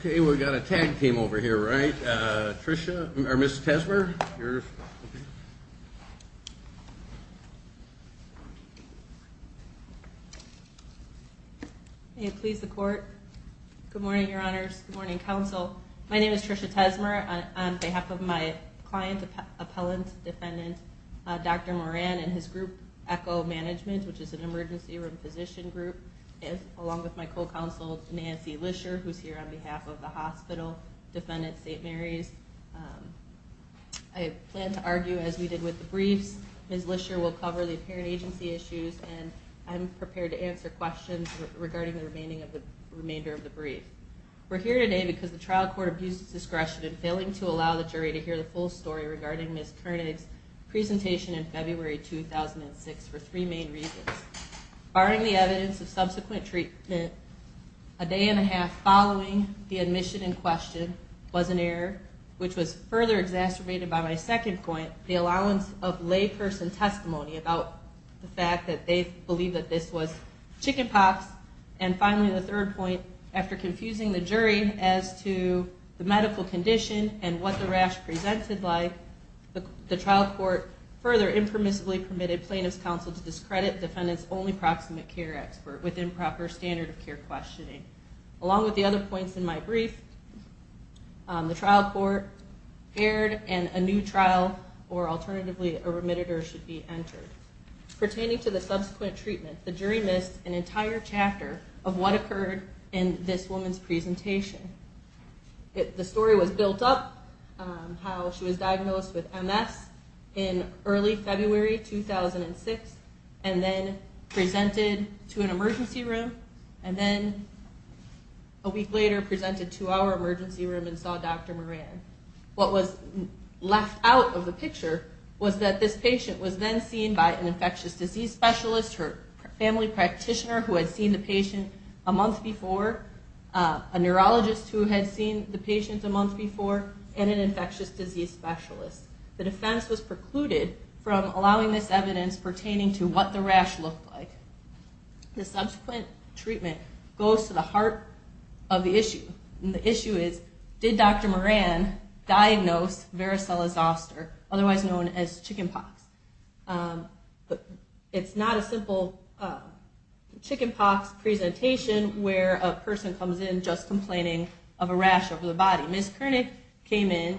Okay, we've got a tag team over here, right? Tricia, or Ms. Tesmer, you're... May it please the court. Good morning, Your Honors. Good morning, Council. My name is Tricia Tesmer. On behalf of my client, appellant, defendant, Dr. Moran and his group, ECHO Management, which is an emergency room physician group, along with my co-counsel, Nancy Lisher, who's here on behalf of the hospital, defendant St. Mary's. I plan to argue as we did with the briefs. Ms. Lisher will cover the apparent agency issues, and I'm prepared to answer questions regarding the remaining of the remainder of the brief. We're here today because the trial court abused its discretion in failing to allow the jury to hear the full story regarding Ms. Koenig's presentation in February 2006 for three main reasons. Barring the evidence of subsequent treatment, a day and a half following the admission in question was an error, which was further exacerbated by my second point, the allowance of layperson testimony about the fact that they believed that this was chicken pox. And finally, the third point, after confusing the jury as to the medical condition and what the rash presented like, the trial court further impermissibly permitted plaintiff's counsel to discredit defendant's only proximate care expert with improper standard of care questioning. Along with the other points in my brief, the trial court erred and a new trial, or alternatively a remitter, should be entered. Pertaining to the subsequent treatment, the jury missed an entire chapter of what occurred in this woman's presentation. The story was built up, how she was diagnosed with MS in early February 2006, and then presented to an emergency room, and then a week later presented to our emergency room and saw Dr. Moran. What was left out of the picture was that this patient was then seen by an infectious disease specialist, her family practitioner who had seen the patient a month before, a neurologist who had seen the patient a month before, and an infectious disease specialist. The defense was precluded from allowing this evidence pertaining to what the rash looked like. The subsequent treatment goes to the heart of the issue, and the issue is, did Dr. Moran diagnose varicella zoster, otherwise known as chicken pox? It's not a simple chicken pox presentation where a person comes in just complaining of a rash over the body. Ms. Kernick came in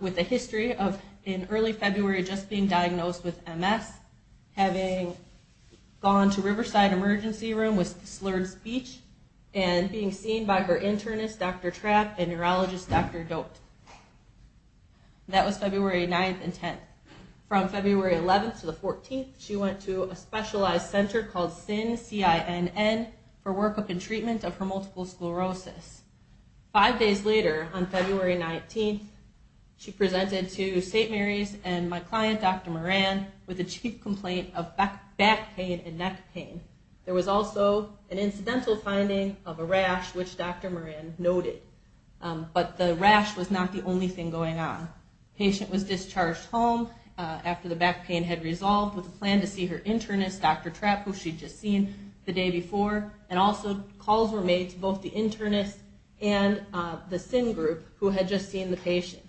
with a history of, in early February, just being diagnosed with MS, having gone to Riverside Emergency Room with slurred speech, and being seen by her internist, Dr. Trapp, and neurologist, Dr. Doet. That was February 9th and 10th. From February 11th to the 14th, she went to a specialized center called CINN, C-I-N-N, for workup and treatment of her multiple sclerosis. Five days later, on February 19th, she presented to St. Mary's and my client, Dr. Moran, with a chief complaint of back pain and neck pain. There was also an incidental finding of a rash, which Dr. Moran noted, but the rash was not the only thing going on. The patient was discharged home after the back pain had resolved with a plan to see her internist, Dr. Trapp, who she'd just seen the day before, and also the CINN group, who had just seen the patient.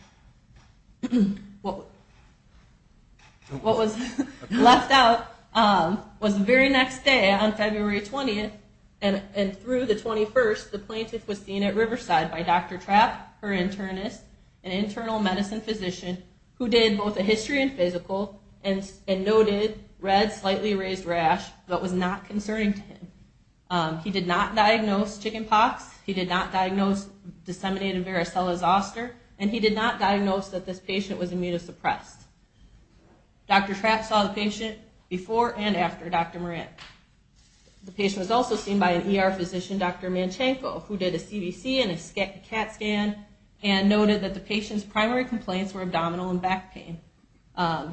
What was left out was the very next day, on February 20th, and through the 21st, the plaintiff was seen at Riverside by Dr. Trapp, her internist, an internal medicine physician, who did both a history and physical, and noted red, slightly raised rash, but was not concerning to him. He did not diagnose chicken pox. He did not diagnose disseminated varicella zoster, and he did not diagnose that this patient was immunosuppressed. Dr. Trapp saw the patient before and after Dr. Moran. The patient was also seen by an ER physician, Dr. Manchenko, who did a CBC and a CAT scan, and noted that the patient's primary complaints were abdominal and back pain.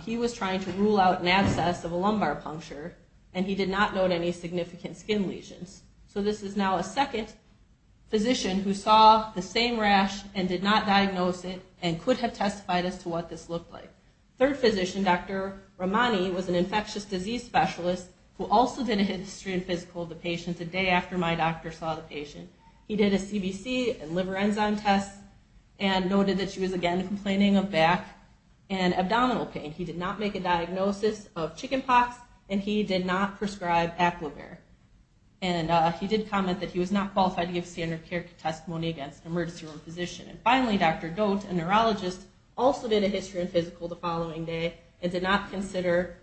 He was trying to rule out an abscess of a lumbar puncture, and he did not note any significant skin lesions. So this is now a second physician who saw the same rash, and did not diagnose it, and could have testified as to what this looked like. Third physician, Dr. Romani, was an infectious disease specialist, who also did a history and physical of the patient a day after my doctor saw the patient. He did a CBC and liver enzyme test, and noted that she was, again, complaining of back and abdominal pain. He did not make a diagnosis of chicken pox, and he did not prescribe Aclovera. And he did comment that he was not prepared to testify against an emergency room physician. And finally, Dr. Doat, a neurologist, also did a history and physical the following day, and did not consider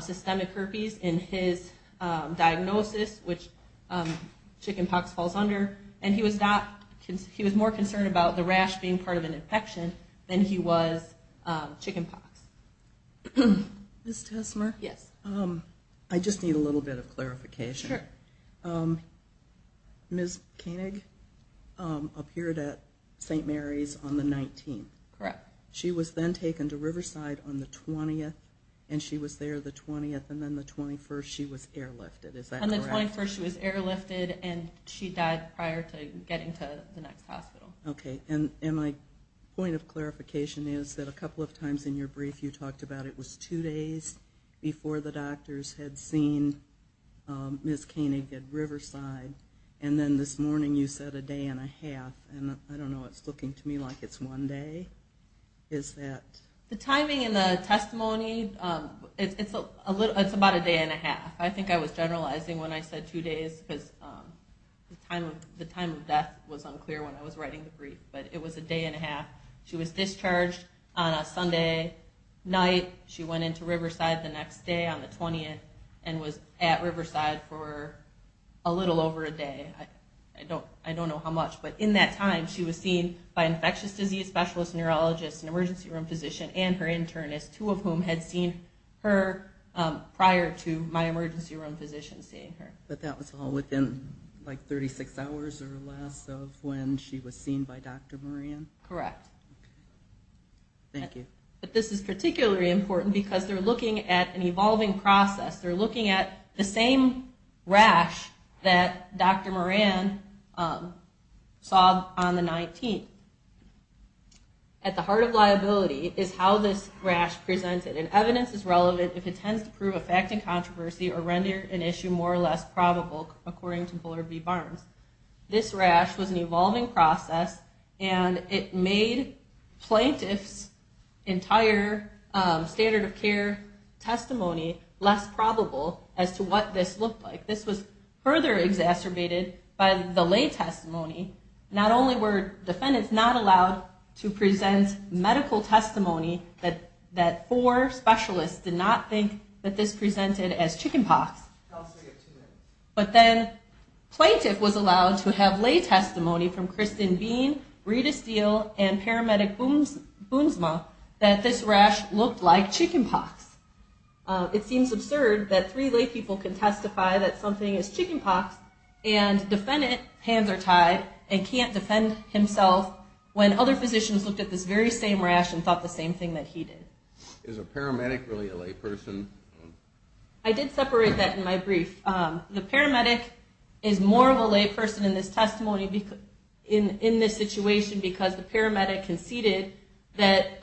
systemic herpes in his diagnosis, which chicken pox falls under. And he was not, he was more concerned about the rash being part of an infection than he was chicken pox. Ms. Tesmer? Yes. I just need a little bit of clarification. Dr. Doat appeared at St. Mary's on the 19th. Correct. She was then taken to Riverside on the 20th, and she was there the 20th, and then the 21st she was airlifted. Is that correct? On the 21st she was airlifted, and she died prior to getting to the next hospital. Okay, and my point of clarification is that a couple of times in your brief you talked about it was two days before the doctors had seen Ms. Tesmer, and it was a day and a half. And I don't know, it's looking to me like it's one day. The timing in the testimony, it's about a day and a half. I think I was generalizing when I said two days, because the time of death was unclear when I was writing the brief. But it was a day and a half. She was discharged on a Sunday night. She went into Riverside the next day on the 20th, and was at Riverside for a little over a day. I don't know how much, but in that time she was seen by infectious disease specialist, neurologist, an emergency room physician, and her internist, two of whom had seen her prior to my emergency room physician seeing her. But that was all within like 36 hours or less of when she was seen by Dr. Moran? Correct. Thank you. But this is particularly important because they're looking at the same rash that Dr. Moran saw on the 19th. At the heart of liability is how this rash presented, and evidence is relevant if it tends to prove a fact in controversy or render an issue more or less probable, according to Bullard v. Barnes. This rash was an evolving process, and it made plaintiffs entire standard of care testimony less probable as to what this looked like. This was further exacerbated by the lay testimony. Not only were defendants not allowed to present medical testimony that four specialists did not think that this presented as chickenpox, but then plaintiff was allowed to have lay this rash looked like chickenpox. It seems absurd that three lay people can testify that something is chickenpox and defendant hands are tied and can't defend himself when other physicians looked at this very same rash and thought the same thing that he did. Is a paramedic really a lay person? I did separate that in my brief. The paramedic is more of a lay person in this situation because the paramedic conceded that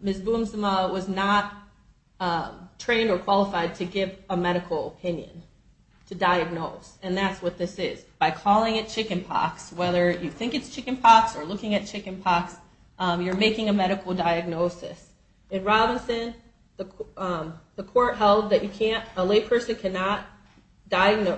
Ms. Boomsima was not trained or qualified to give a medical opinion, to diagnose, and that's what this is. By calling it chickenpox, whether you think it's chickenpox or looking at chickenpox, you're making a medical diagnosis. In Robinson, the court held that you can't, a lay person cannot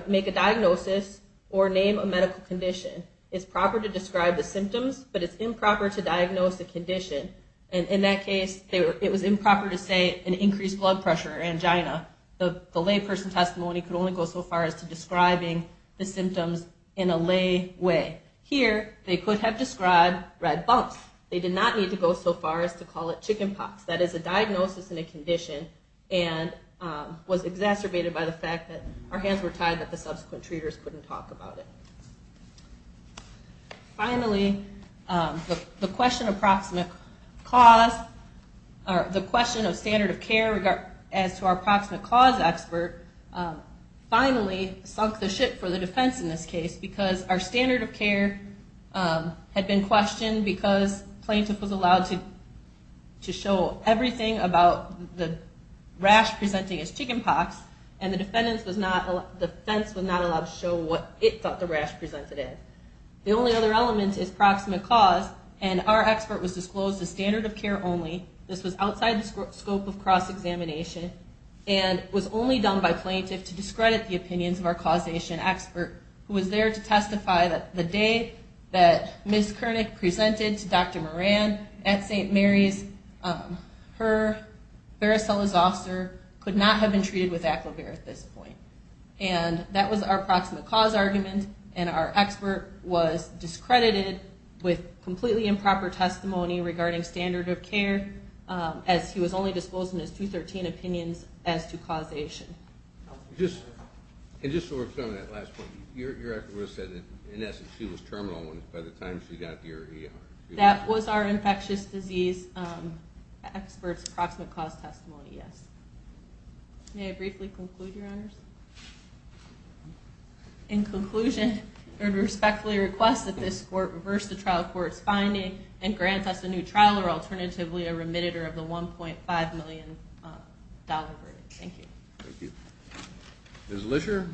make a diagnosis or name a medical condition. It's proper to describe the symptoms, but it's improper to diagnose the condition. In that case, it was improper to say an increased blood pressure or angina. The layperson testimony could only go so far as to describing the symptoms in a lay way. Here, they could have described red bumps. They did not need to go so far as to call it chickenpox. That is a diagnosis in a condition and was exacerbated by the fact that our hands were tied that the subsequent treaters couldn't talk about it. Finally, the question of standard of care as to our approximate cause expert finally sunk the ship for the defense in this case because our standard of care had been questioned because plaintiff was allowed to show everything about the rash presenting as chickenpox and the defense was not allowed to show what it thought the rash presented as. The only other element is approximate cause and our expert was disclosed as standard of care only. This was outside the scope of cross-examination and was only done by plaintiff to discredit the opinions of our causation expert who was there to testify that the day that Ms. Kernick presented to Dr. Moran at St. Mary's, her varicella zoster could not have been treated with Aquavir at this point. That was our approximate cause argument and our expert was discredited with completely improper testimony regarding standard of care as he was only disclosed in his 213 opinions as to causation. Just to work through on that last point, your expert would have said that in essence she was terminal by the time she got to your ER. That was our infectious disease expert's approximate cause testimony, yes. May I briefly conclude, Your Honors? In conclusion, I respectfully request that this court reverse the trial court's finding and grant us a new trial or alternatively a remitter of the $1.5 million verdict. Thank you. Ms. Lisher.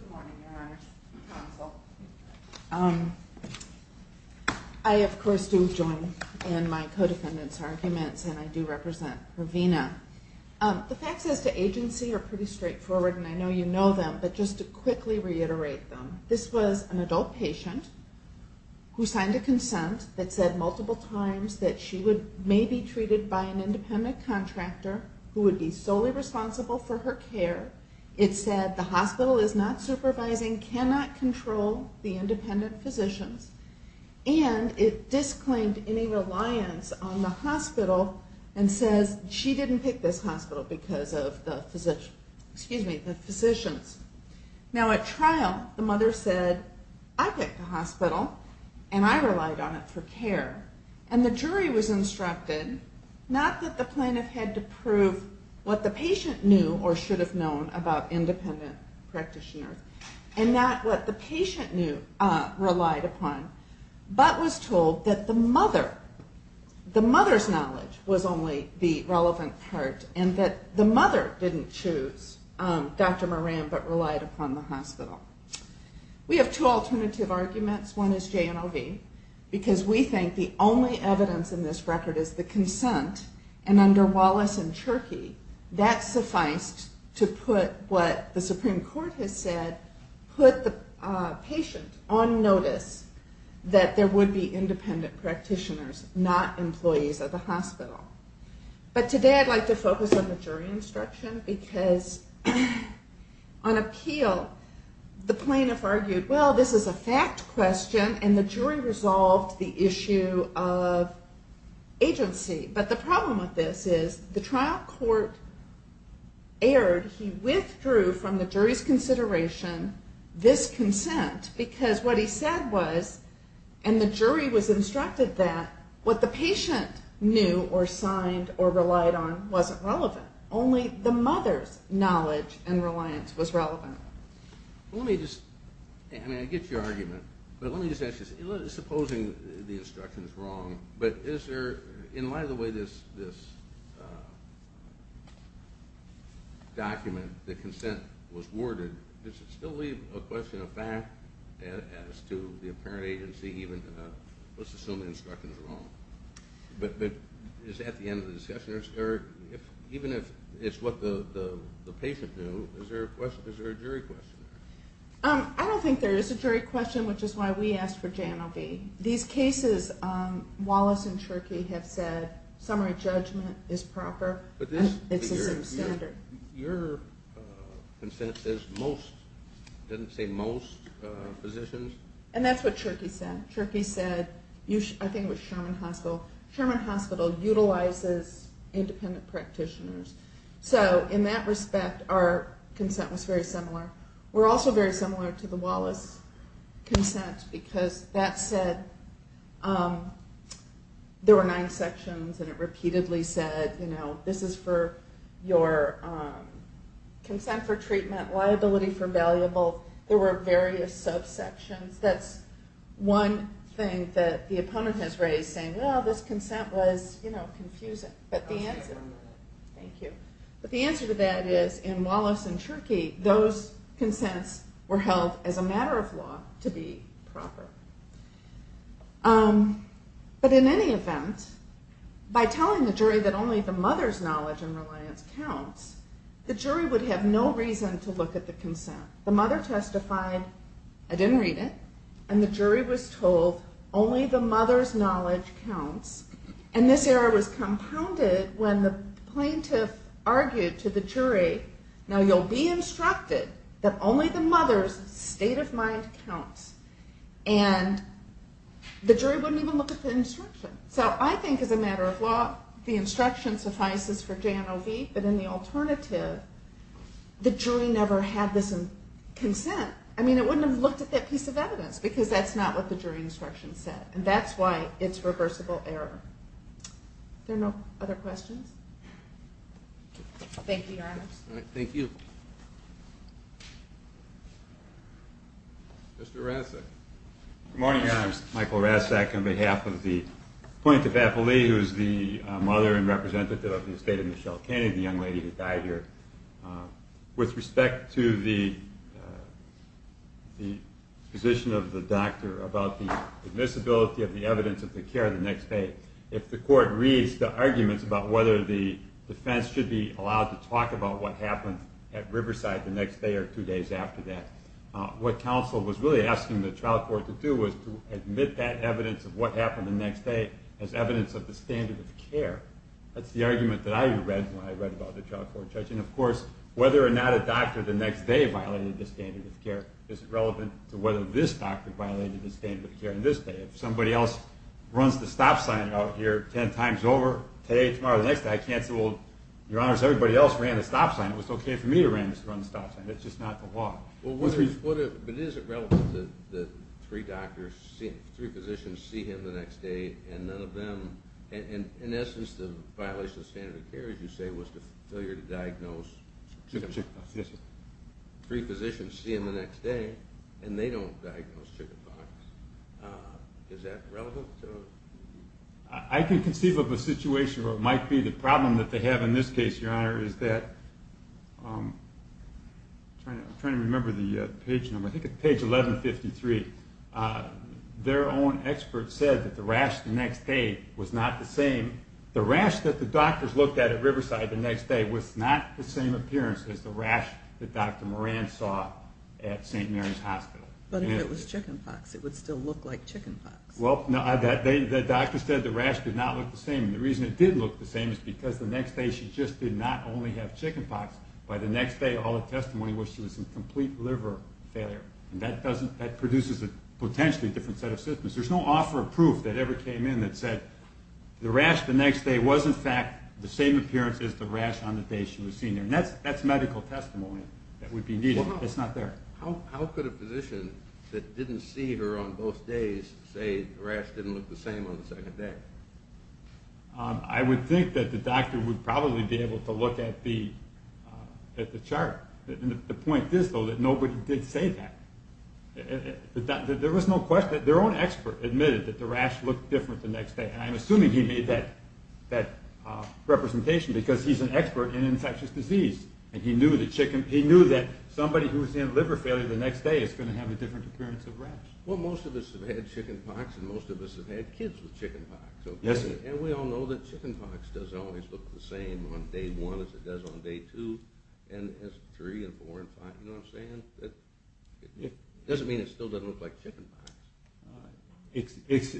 Good morning, Your Honor. Counsel. I of course do join in my co-defendant's arguments and I do represent Ravina. The facts as to agency are pretty straightforward and I know you know them, but just to quickly reiterate them. This was an adult patient who signed a consent that said multiple times that she may be treated by an independent contractor who would be solely responsible for her care. It said the hospital is not supervising, cannot control the independent physicians and it disclaimed any reliance on the hospital and says she didn't pick this hospital because of the physicians. Now at trial, the mother said, I picked the hospital and I relied on it for what it was instructed, not that the plaintiff had to prove what the patient knew or should have known about independent practitioners and not what the patient knew relied upon, but was told that the mother, the mother's knowledge was only the relevant part and that the mother didn't choose Dr. Moran but relied upon the hospital. We have two alternative arguments. One is J&OV because we think the only evidence in this record is the consent and under Wallace and Cherokee that sufficed to put what the Supreme Court has said, put the patient on notice that there would be independent practitioners, not employees of the hospital. But today I'd like to focus on the jury instruction because on appeal the plaintiff argued, well this is a fact question and the jury involved the issue of agency. But the problem with this is the trial court erred. He withdrew from the jury's consideration this consent because what he said was and the jury was instructed that what the patient knew or signed or relied on wasn't relevant. Only the mother's knowledge and reliance was relevant. Let me just, I mean I get your argument, but let me just ask you, supposing the instruction is wrong, but is there, in light of the way this document, the consent was worded, does it still leave a question of fact as to the apparent agency even, let's assume the instruction is wrong. But is at the end of the discussion, or even if it's what the patient knew, is there a question, is there a jury question? I don't think there is a jury question, which is why we asked for J&LB. These cases, Wallace and Cherokee have said summary judgment is proper, it's a standard. Your consent says most, it doesn't say most physicians? And that's what Cherokee said. Cherokee said, I think it was Sherman Hospital, Sherman Hospital utilizes independent practitioners. So in that form, we're also very similar to the Wallace consent, because that said, there were nine sections and it repeatedly said, you know, this is for your consent for treatment, liability for valuable, there were various subsections. That's one thing that the opponent has raised, saying, well, this consent was, you know, confusing. But the answer to that is, in Wallace and Cherokee, those consents were held as a matter of law to be proper. But in any event, by telling the jury that only the mother's knowledge and reliance counts, the jury would have no reason to look at the consent. The mother testified, I didn't read it, and the jury was told, only the mother's knowledge counts. And this error was compounded when the plaintiff argued to the jury, now you'll be instructed that only the mother's state of mind counts. And the jury wouldn't even look at the instruction. So I think as a matter of law, the instruction suffices for J&OB, but in the alternative, the jury never had this consent. I mean, it wouldn't have looked at that piece of evidence, because that's not what the jury instruction said. And that's why it's reversible error. Are there no other questions? Thank you, Your Honor. Thank you. Mr. Rasek. Good morning, Your Honor. I'm Michael Rasek on behalf of the plaintiff, Apple Lee, who is the mother and representative of the estate of Michelle Kennedy, the young lady who died here. With respect to the position of the doctor about the admissibility of the evidence of the care of the next date, if the court reads the arguments about whether the defense should be what happened at Riverside the next day or two days after that, what counsel was really asking the trial court to do was to admit that evidence of what happened the next day as evidence of the standard of care. That's the argument that I read when I read about the trial court judge. And of course, whether or not a doctor the next day violated the standard of care isn't relevant to whether this doctor violated the standard of care on this day. If somebody else runs the stop sign out here 10 times over today, tomorrow, the next day, I can't say, well, Your Honor, everybody else ran the stop sign. It was okay for me to run the stop sign. It's just not the law. But is it relevant that three doctors, three physicians, see him the next day and none of them, in essence, the violation of standard of care, as you say, was the failure to diagnose three physicians, see him the next day, and they don't diagnose chickenpox. Is that relevant? I can conceive of a problem that they have in this case, Your Honor, is that, I'm trying to remember the page number, I think it's page 1153, their own expert said that the rash the next day was not the same. The rash that the doctors looked at at Riverside the next day was not the same appearance as the rash that Dr. Moran saw at St. Mary's Hospital. But if it was chickenpox, it would still look like chickenpox. Well, the doctor said the rash did not look the same. The reason it did look the same is because the next day she just did not only have chickenpox. By the next day, all the testimony was she was in complete liver failure. That doesn't, that produces a potentially different set of symptoms. There's no offer of proof that ever came in that said the rash the next day was, in fact, the same appearance as the rash on the day she was seen there. That's medical testimony that would be needed. It's not there. How could a physician that didn't see her on both days say the rash didn't look the same on the second day? I would think that the doctor would probably be able to look at the chart. The point is, though, that nobody did say that. There was no question, their own expert admitted that the rash looked different the next day, and I'm assuming he made that representation because he's an expert in infectious disease, and he knew the chicken, he knew that somebody who was in liver failure the next day is going to have a different appearance of rash. Well, most of us have had chickenpox, and most of us have had kids with chickenpox. Yes. And we all know that chickenpox doesn't always look the same on day one as it does on day two, and three, and four, and five, you know what I'm saying? That doesn't mean it still doesn't look like chickenpox. Except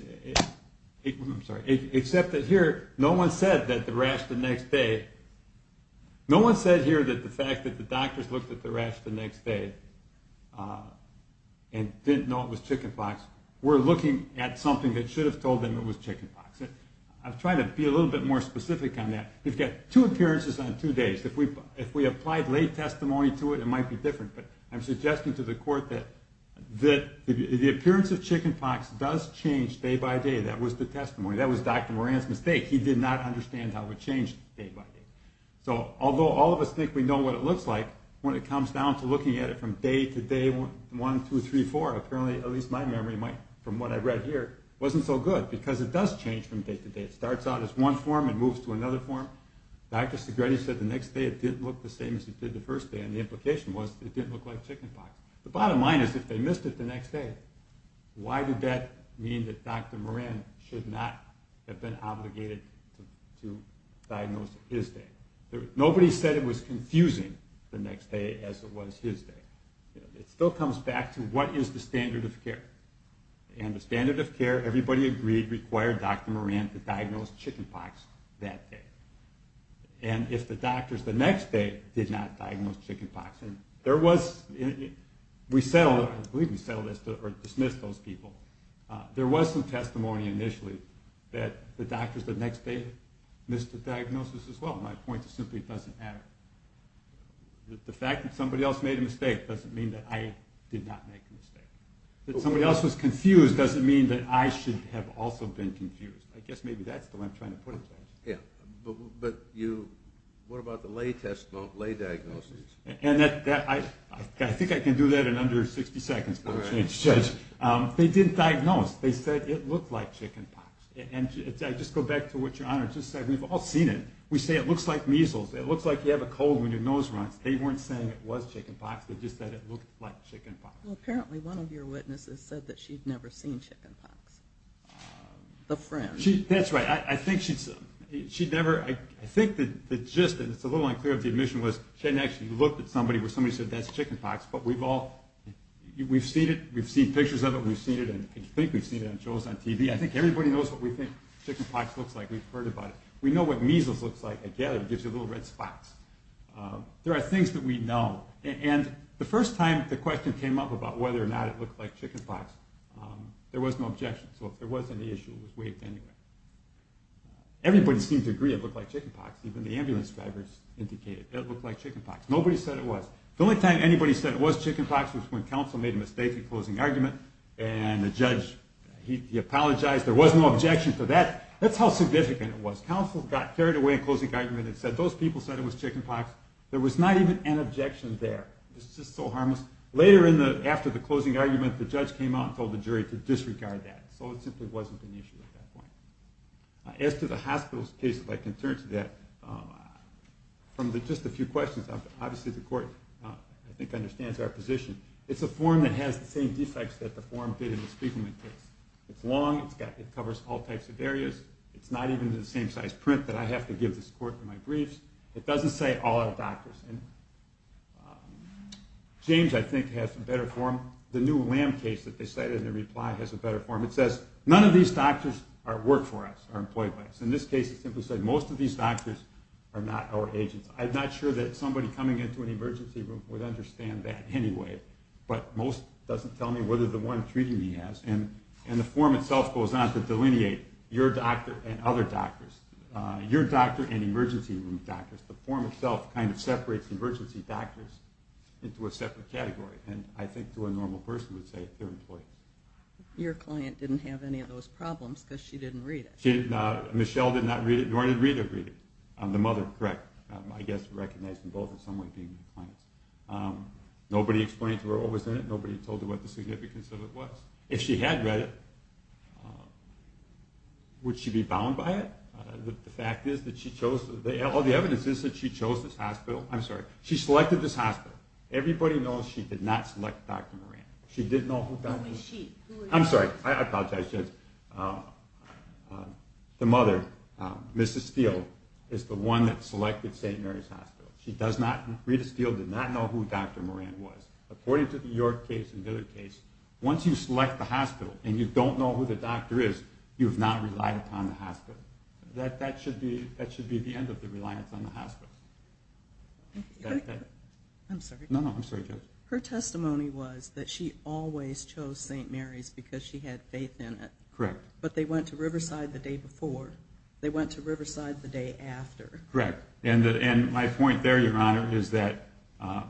that here, no one said that the rash the next day, no one and didn't know it was chickenpox. We're looking at something that should have told them it was chickenpox. I've tried to be a little bit more specific on that. We've got two appearances on two days. If we applied late testimony to it, it might be different, but I'm suggesting to the court that the appearance of chickenpox does change day by day. That was the testimony. That was Dr. Moran's mistake. He did not understand how it would change day by day. So although all of us think we know what it looks like, when it comes down to looking at it from day to day, one, two, three, four, apparently, at least my memory, from what I've read here, wasn't so good, because it does change from day to day. It starts out as one form and moves to another form. Dr. Segretti said the next day it didn't look the same as it did the first day, and the implication was it didn't look like chickenpox. The bottom line is, if they missed it the next day, why did that mean that Dr. Moran should not have been obligated to diagnose it his day? Nobody said it was confusing the next day as it was his day. It still comes back to what is the standard of care? And the standard of care, everybody agreed, required Dr. Moran to diagnose chickenpox that day. And if the doctors the next day did not diagnose chickenpox, and there was, we settled, I believe we settled as to, or dismissed those people, there was some testimony initially that the doctors the next day missed the diagnosis as well. My point is simply it doesn't matter. The fact that somebody else made a mistake doesn't mean that I did not make a mistake. That somebody else was confused doesn't mean that I should have also been confused. I guess maybe that's the way I'm trying to put it, Judge. Yeah, but you, what about the lay test, lay diagnosis? And that, I think I can do that in under 60 seconds, Judge. They didn't diagnose. They said it looked like chickenpox. And I just go back to what Your Honor just said. We've all seen it. We say it looks like measles. It looks like you have a cold when your nose runs. They weren't saying it was chickenpox. They just said it looked like chickenpox. Well, apparently one of your witnesses said that she'd never seen chickenpox. The friend. She, that's right. I think she'd, she'd never, I think the gist, and it's a little unclear if the admission was, she hadn't actually looked at somebody where somebody said, that's chickenpox. But we've all, we've seen it, we've seen it on shows, on TV. I think everybody knows what we think chickenpox looks like. We've heard about it. We know what measles looks like. I get it. It gives you little red spots. There are things that we know. And the first time the question came up about whether or not it looked like chickenpox, there was no objection. So if there was any issue, it was waived anyway. Everybody seemed to agree it looked like chickenpox. Even the ambulance drivers indicated it looked like chickenpox. Nobody said it was. The only time anybody said it was chickenpox was when counsel made a mistake in closing argument and the judge, he apologized. There was no objection to that. That's how significant it was. Counsel got carried away in closing argument and said, those people said it was chickenpox. There was not even an objection there. It's just so harmless. Later in the, after the closing argument, the judge came out and told the jury to disregard that. So it simply wasn't an issue at that point. As to the hospital's case, if I can turn to that, from the, just a few questions, obviously the court, I think, understands our position. It's a form that has the same defects that the form did in the Spiegelman case. It's long, it's got, it covers all types of areas. It's not even the same size print that I have to give this court in my briefs. It doesn't say all our doctors. And James, I think, has a better form. The new Lamb case that they cited in their reply has a better form. It says, none of these doctors work for us, are employed by us. In this case, it simply said, most of these doctors are not our agents. I'm not sure that somebody coming into an emergency room would understand that anyway. But most doesn't tell me whether the one treating me has. And, and the form itself goes on to delineate your doctor and other doctors. Your doctor and emergency room doctors. The form itself kind of separates emergency doctors into a separate category. And I think to a normal person would say, they're employees. Your client didn't have any of those problems, because she didn't read it. She did not, Michelle did not read it, nor did Rita read it. The mother, correct. I guess recognized in both in some way being the client's. Nobody explained to her what was in it. Nobody told her what the significance of it was. If she had read it, would she be bound by it? The fact is that she chose, all the evidence is that she chose this hospital. I'm sorry. She selected this hospital. Everybody knows she did not select Dr. Moran. She didn't know who found her. Who is she? Who is she? I'm sorry. I apologize. The mother, Mrs. Steele, is the one that selected St. Mary's Hospital. She does not, Rita Steele did not know who Dr. Moran was. According to the York case and Dillard case, once you select the hospital and you don't know who the doctor is, you've not relied upon the hospital. That should be the end of the reliance on the hospital. I'm sorry. No, no. I'm sorry. Her testimony was that she always chose St. Mary's because she had faith in it. Correct. But they went to Riverside the day before. They went to Riverside the day after. Correct. And my point there, Your Honor, is that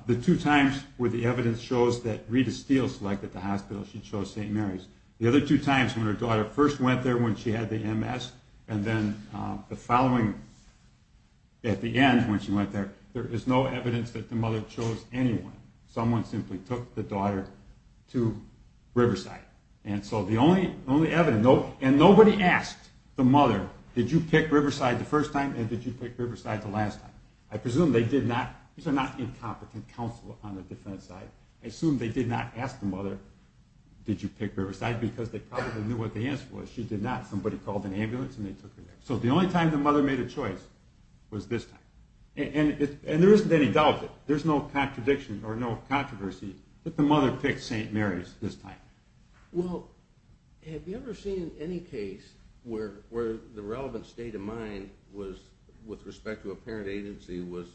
the two times where the evidence shows that Rita Steele selected the hospital, she chose St. Mary's. The other two times when her daughter first went there when she had the MS and then the following, at the end when she went there, there is no evidence that the mother chose anyone. Someone simply took the daughter to Riverside. And so the only evidence, and nobody asked the mother, did you pick Riverside the first time and did you pick Riverside the last time? I presume they did not, these are not incompetent counsel on the defense side. I assume they did not ask the mother, did you pick Riverside? Because they probably knew what the answer was. She did not. Somebody called an ambulance and they took her there. So the only time the mother made a choice was this time. And there isn't any doubt that, there's no contradiction or no controversy that the mother picked St. Mary's this time. Well, have you ever seen any case where the relevant state of mind was, with respect to a parent agency, was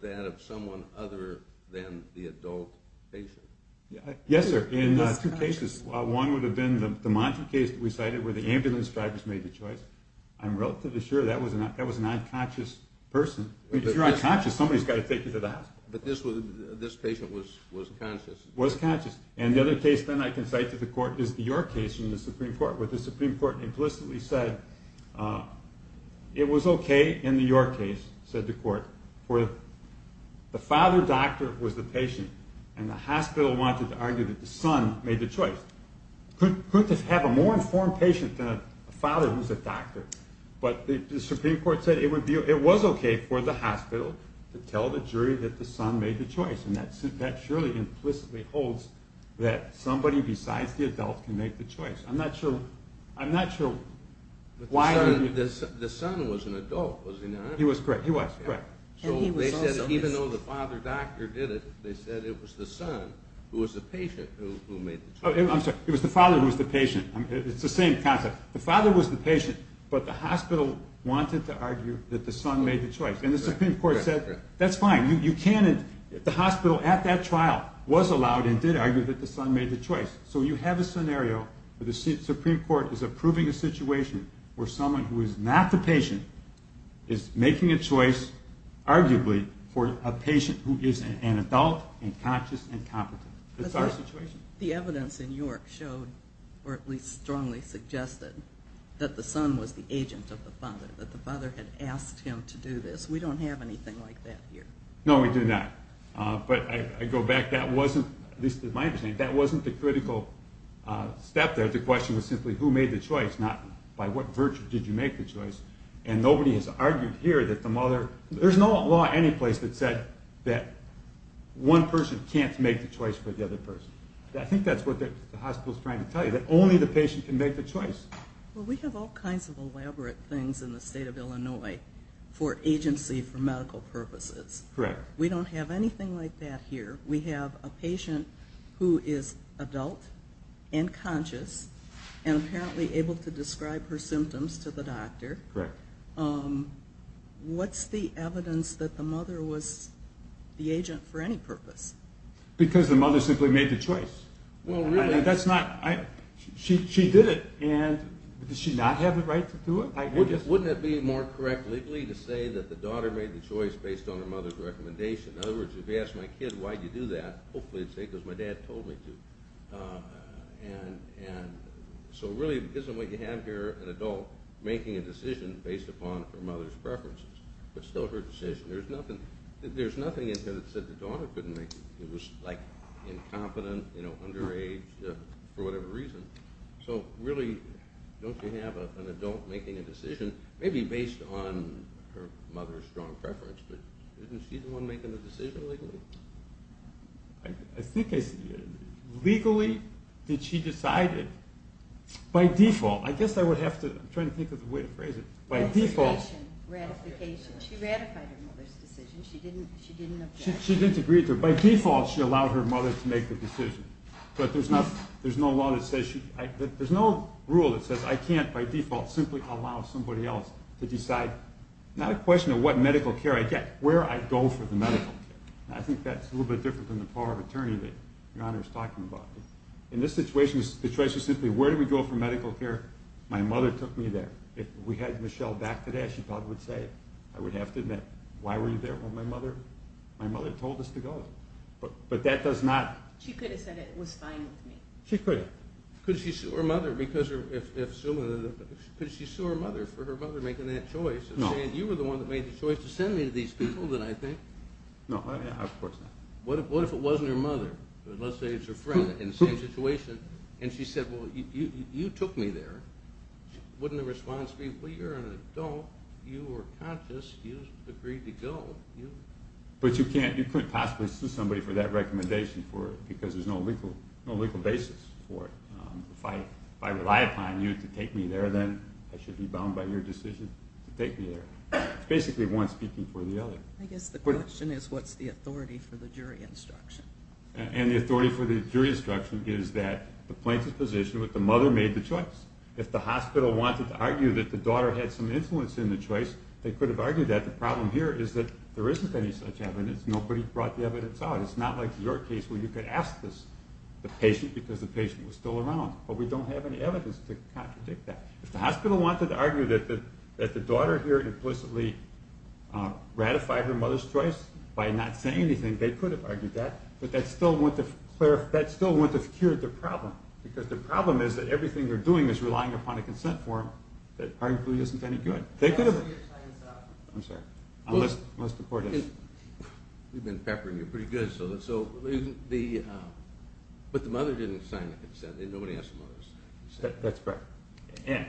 that of someone other than the adult patient? Yes sir, in two cases. One would have been the Montre case that we cited where the ambulance drivers made the choice. I'm relatively sure that was an unconscious person. If you're unconscious, somebody's got to take you to the hospital. But this patient was conscious? Was conscious. And the other case, then I can cite to the court, is the York case in the Supreme Court, where the Supreme Court implicitly said it was okay in the York case, said the court, for the father doctor was the patient and the hospital wanted to argue that the son made the choice. Could this have a more informed patient than a father who's a doctor? But the Supreme Court said it would be, it was okay for the hospital to tell the jury that the son made the choice. And that surely implicitly holds that somebody besides the adult can make the choice. I'm not sure, I'm not sure why. The son was an adult, was he not? He was correct, he was correct. So they said even though the father doctor did it, they said it was the son who was the patient who made the choice. I'm sorry, it was the father who was the patient. It's the same concept. The father was the patient, but the hospital wanted to argue that the son made the choice. And the Supreme Court said, that's fine, you can, the hospital did argue that the son made the choice. So you have a scenario where the Supreme Court is approving a situation where someone who is not the patient is making a choice, arguably, for a patient who is an adult and conscious and competent. That's our situation. The evidence in York showed, or at least strongly suggested, that the son was the agent of the father, that the father had asked him to do this. We don't have anything like that here. No, we do not. But I go back, that wasn't, at least to my understanding, that wasn't the critical step there. The question was simply who made the choice, not by what virtue did you make the choice. And nobody has argued here that the mother, there's no law anyplace that said that one person can't make the choice for the other person. I think that's what the hospital's trying to tell you, that only the patient can make the choice. Well, we have all kinds of elaborate things in the state of Illinois for agency, for medical purposes. Correct. We don't have anything like that here. We have a patient who is adult and conscious and apparently able to describe her symptoms to the doctor. Correct. What's the evidence that the mother was the agent for any purpose? Because the mother simply made the choice. Well, really, that's not, she did it and does she not have the right to do it? Wouldn't it be more correct legally to say that the daughter made the choice? If I was a kid, why'd you do that? Hopefully it's safe, because my dad told me to. So really, isn't what you have here an adult making a decision based upon her mother's preferences? But still her decision, there's nothing, there's nothing in here that said the daughter couldn't make it. It was like incompetent, you know, underage, for whatever reason. So really, don't you have an adult making a decision, maybe based on her mother's strong preference, but isn't she the one making the decision legally? I think legally, did she decide it? By default, I guess I would have to, I'm trying to think of a way to phrase it. By default. Ratification. She ratified her mother's decision, she didn't object. She didn't agree to it. By default, she allowed her mother to make the decision. But there's no law that says, there's no rule that says I can't by default simply allow somebody else to decide. It's not a question of what medical care I get, where I go for the medical care. I think that's a little bit different than the power of attorney that Your Honor is talking about. In this situation, the choice is simply, where do we go for medical care? My mother took me there. If we had Michelle back today, she probably would say, I would have to admit, why were you there when my mother told us to go? But that does not... She could have said it was fine with me. She could have. Could she sue her mother for her mother making that choice? No. You were the one that made the choice to send me to these people that I think. No, of course not. What if it wasn't her mother, let's say it's her friend in the same situation, and she said, well, you took me there. Wouldn't the response be, well, you're an adult, you were conscious, you agreed to go. But you couldn't possibly sue somebody for that recommendation because there's no legal basis for it. If I rely upon you to take me there, then I should be bound by your decision to take me there. It's basically one speaking for the other. I guess the question is, what's the authority for the jury instruction? And the authority for the jury instruction is that the plaintiff's position was that the mother made the choice. If the hospital wanted to argue that the daughter had some influence in the choice, they could have argued that. But the problem here is that there isn't any such evidence. Nobody brought the evidence out. It's not like your case where you could ask the patient because the patient was still around. But we don't have any evidence to contradict that. If the hospital wanted to argue that the daughter here implicitly ratified her mother's choice by not saying anything, they could have argued that. But that still wouldn't have cured the problem because the problem is that everything they're doing is relying upon a consent form that arguably isn't any good. I'm sorry. We've been peppering you pretty good. But the mother didn't sign the consent. Nobody asked the mother. That's correct. And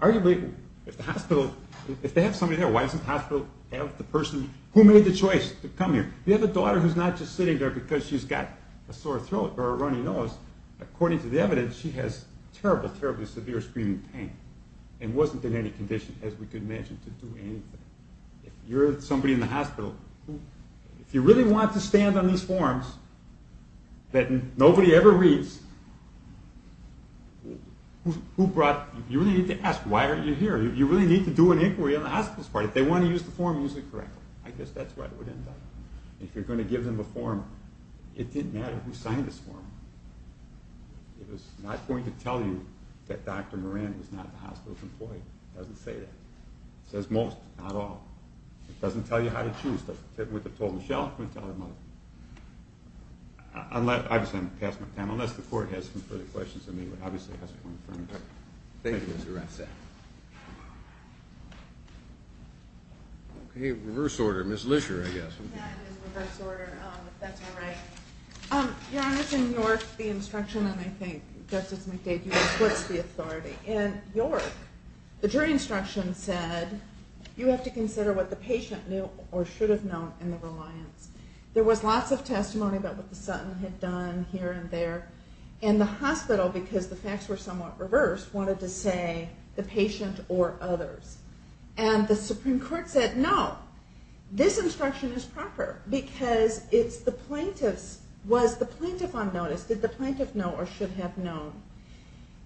arguably, if they have somebody there, why doesn't the hospital have the person who made the choice to come here? We have a daughter who's not just sitting there because she's got a sore throat or a runny nose. According to the evidence, she has terrible, terribly severe screaming pain and wasn't in any condition, as we could imagine, to do anything. If you're somebody in the hospital, if you really want to stand on these forms that nobody ever reads, you really need to ask, why aren't you here? You really need to do an inquiry on the hospital's part. If they want to use the form, use it correctly. I guess that's what it would end up. If you're going to give them a form, it didn't matter who signed this form. It was not going to tell you that Dr. Moran was not the hospital's employee. It doesn't say that. It says most, but not all. It doesn't tell you how to choose. With the total shelf, we tell the mother. Obviously, I'm going to pass my time, unless the court has some further questions of me. But obviously, it has to come from the court. Thank you, Mr. Ratzak. Okay, reverse order. Ms. Lisher, I guess. That is reverse order, if that's all right. Your Honor, in York, the instruction, and I think Justice McDade, you know, splits the authority. In York, the jury instruction said, you have to consider what the patient knew or should have known in the reliance. There was lots of testimony about what the Sutton had done here and there. And the hospital, because the facts were somewhat reversed, wanted to say the patient or others. And the Supreme Court said, no, this instruction is proper, because it's the plaintiff's. Was the plaintiff on notice? Did the plaintiff know or should have known?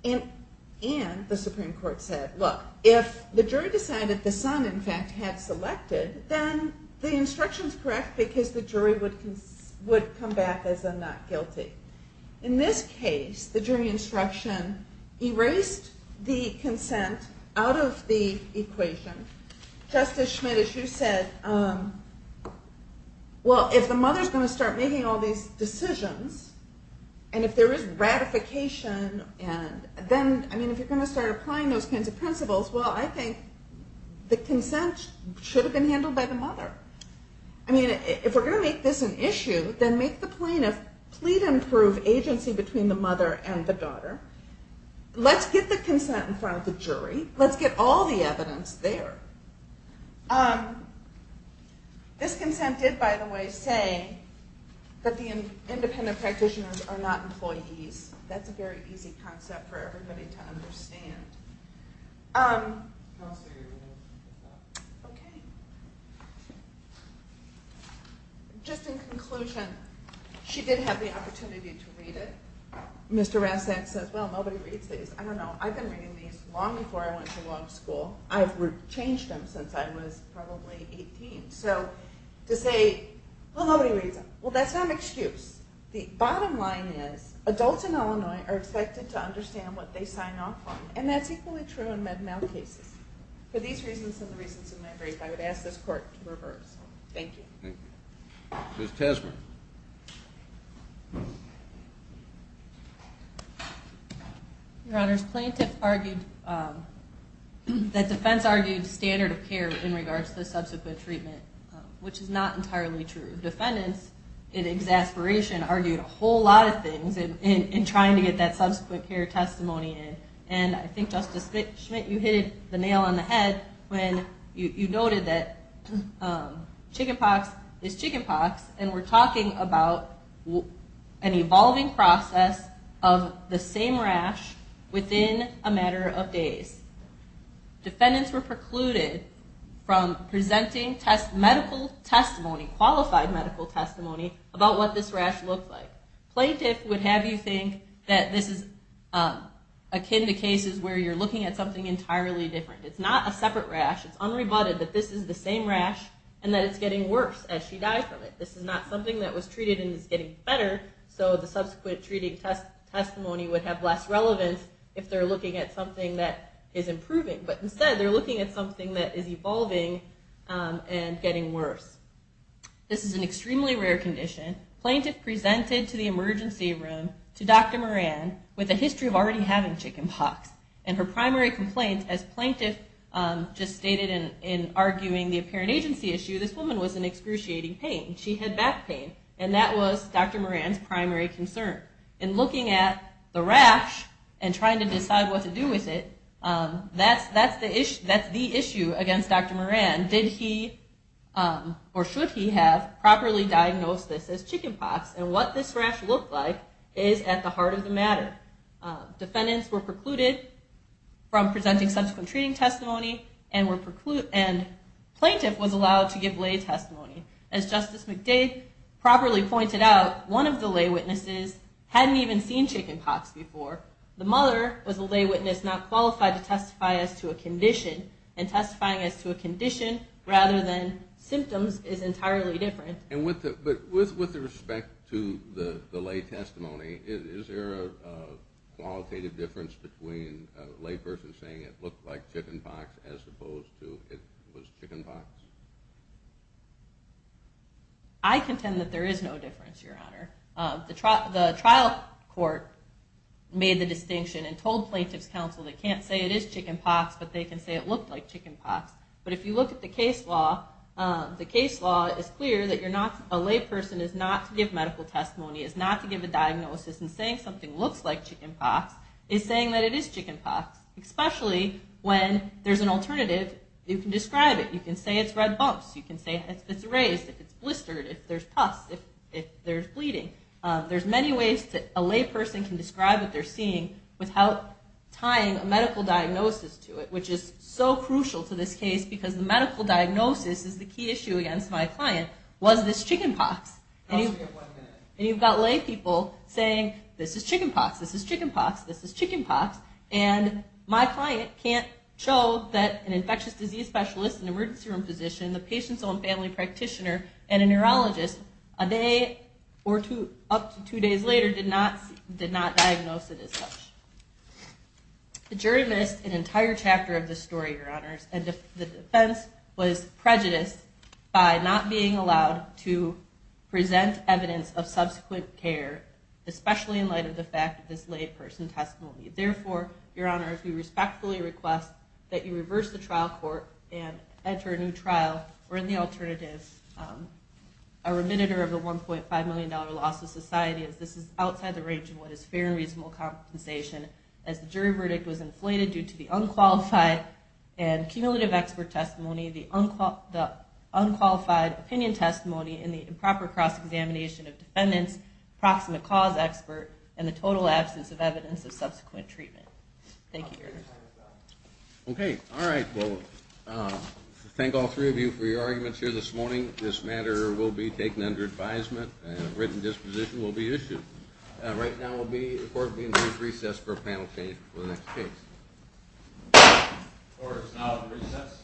And the Supreme Court said, look, if the jury decided the son, in fact, had selected, then the instruction is correct, because the jury would come back as a not guilty. In this case, the jury instruction erased the consent out of the equation. Justice Schmidt, as you said, well, if the mother's going to start making all these decisions, and if there is ratification, and then, I mean, if you're going to start applying those kinds of principles, well, I think the consent should have been handled by the mother. I mean, if we're going to make this an issue, then make the plaintiff plead and prove agency between the mother and the daughter. Let's get the consent in front of the jury. Let's get all the evidence there. This consent did, by the way, say that the independent practitioners are not employees. That's a very easy concept for everybody to understand. Just in conclusion, she did have the opportunity to read it. Mr. Rassak says, well, nobody reads these. I don't know. I've been reading these long before I went to law school. I've changed them since I was probably 18. So to say, well, nobody reads them. Well, that's not an excuse. The bottom line is adults in Illinois are expected to understand what they sign off on, and that's equally true in Med-Mal cases. For these reasons and the reasons in my brief, I would ask this court to reverse. Thank you. Thank you. Ms. Tasman. Your Honor, plaintiffs argued that defense argued standard of care in regards to the subsequent treatment, which is not entirely true. Defendants, in exasperation, argued a whole lot of things in trying to get that subsequent care testimony in. And I think, Justice Schmidt, you hit the nail on the head when you noted that chicken pox is chicken pox, and we're talking about an evolving process of the same rash within a matter of days. Defendants were precluded from presenting medical testimony, qualified medical testimony about what this rash looked like. Plaintiff would have you think that this is akin to cases where you're looking at something entirely different. It's not a separate rash. It's unrebutted that this is the same rash and that it's getting worse as she died from it. This is not something that was treated and is getting better, so the subsequent treating testimony would have less relevance if they're looking at something that is improving. But instead, they're looking at something that is evolving and getting worse. This is an extremely rare condition. Plaintiff presented to the emergency room to Dr. Moran with a history of already having chicken pox. And her primary complaint, as plaintiff just stated in arguing the apparent agency issue, this woman was in excruciating pain. She had back pain, and that was Dr. Moran's primary concern. In looking at the rash and trying to decide what to do with it, that's the issue against Dr. Moran. Did he or should he have properly diagnosed this as chicken pox? And what this rash looked like is at the heart of the matter. Defendants were precluded from presenting subsequent treating testimony and plaintiff was allowed to give lay testimony. As Justice McDade properly pointed out, one of the lay witnesses hadn't even seen chicken pox before. The mother was a lay witness not qualified to testify as to a condition, and testifying as to a condition rather than symptoms is entirely different. And with respect to the lay testimony, is there a qualitative difference between a lay person saying it looked like chicken pox as opposed to it was chicken pox? I contend that there is no difference, Your Honor. The trial court made the distinction and told plaintiff's counsel they can't say it is chicken pox, but they can say it looked like chicken pox. But if you look at the case law, the case law is clear that a lay person is not to give medical testimony, is not to give a diagnosis, and saying something looks like chicken pox is saying that it is chicken pox, especially when there's an alternative. You can describe it. You can say it's red bumps. You can say it's raised, if it's blistered, if there's pus, if there's bleeding. There's many ways that a lay person can describe what they're seeing without tying a medical diagnosis to it, which is so crucial to this case because the medical diagnosis is the key issue against my client. Was this chicken pox? And you've got lay people saying this is chicken pox, this is chicken pox, this is chicken pox, and my client can't show that an infectious disease specialist, an emergency room physician, the patient's own family practitioner, and a neurologist a day or up to two days later did not diagnose it as such. The jury missed an entire chapter of this story, Your Honors, and the defense was prejudiced by not being allowed to present evidence of subsequent care, especially in light of the fact that this lay person testified. Therefore, Your Honors, we respectfully request that you reverse the trial court and enter a new trial or in the alternative a remediator of the $1.5 million loss to society as this is outside the range of what is fair and reasonable compensation as the jury verdict was inflated due to the unqualified and cumulative expert testimony, the unqualified opinion testimony, and the improper cross-examination of defendants, approximate cause expert, and the total absence of evidence of subsequent treatment. Thank you, Your Honors. Okay. All right. Well, thank all three of you for your arguments here this morning. Right now, the court will be in recess for a panel change before the next case. Court is now in recess.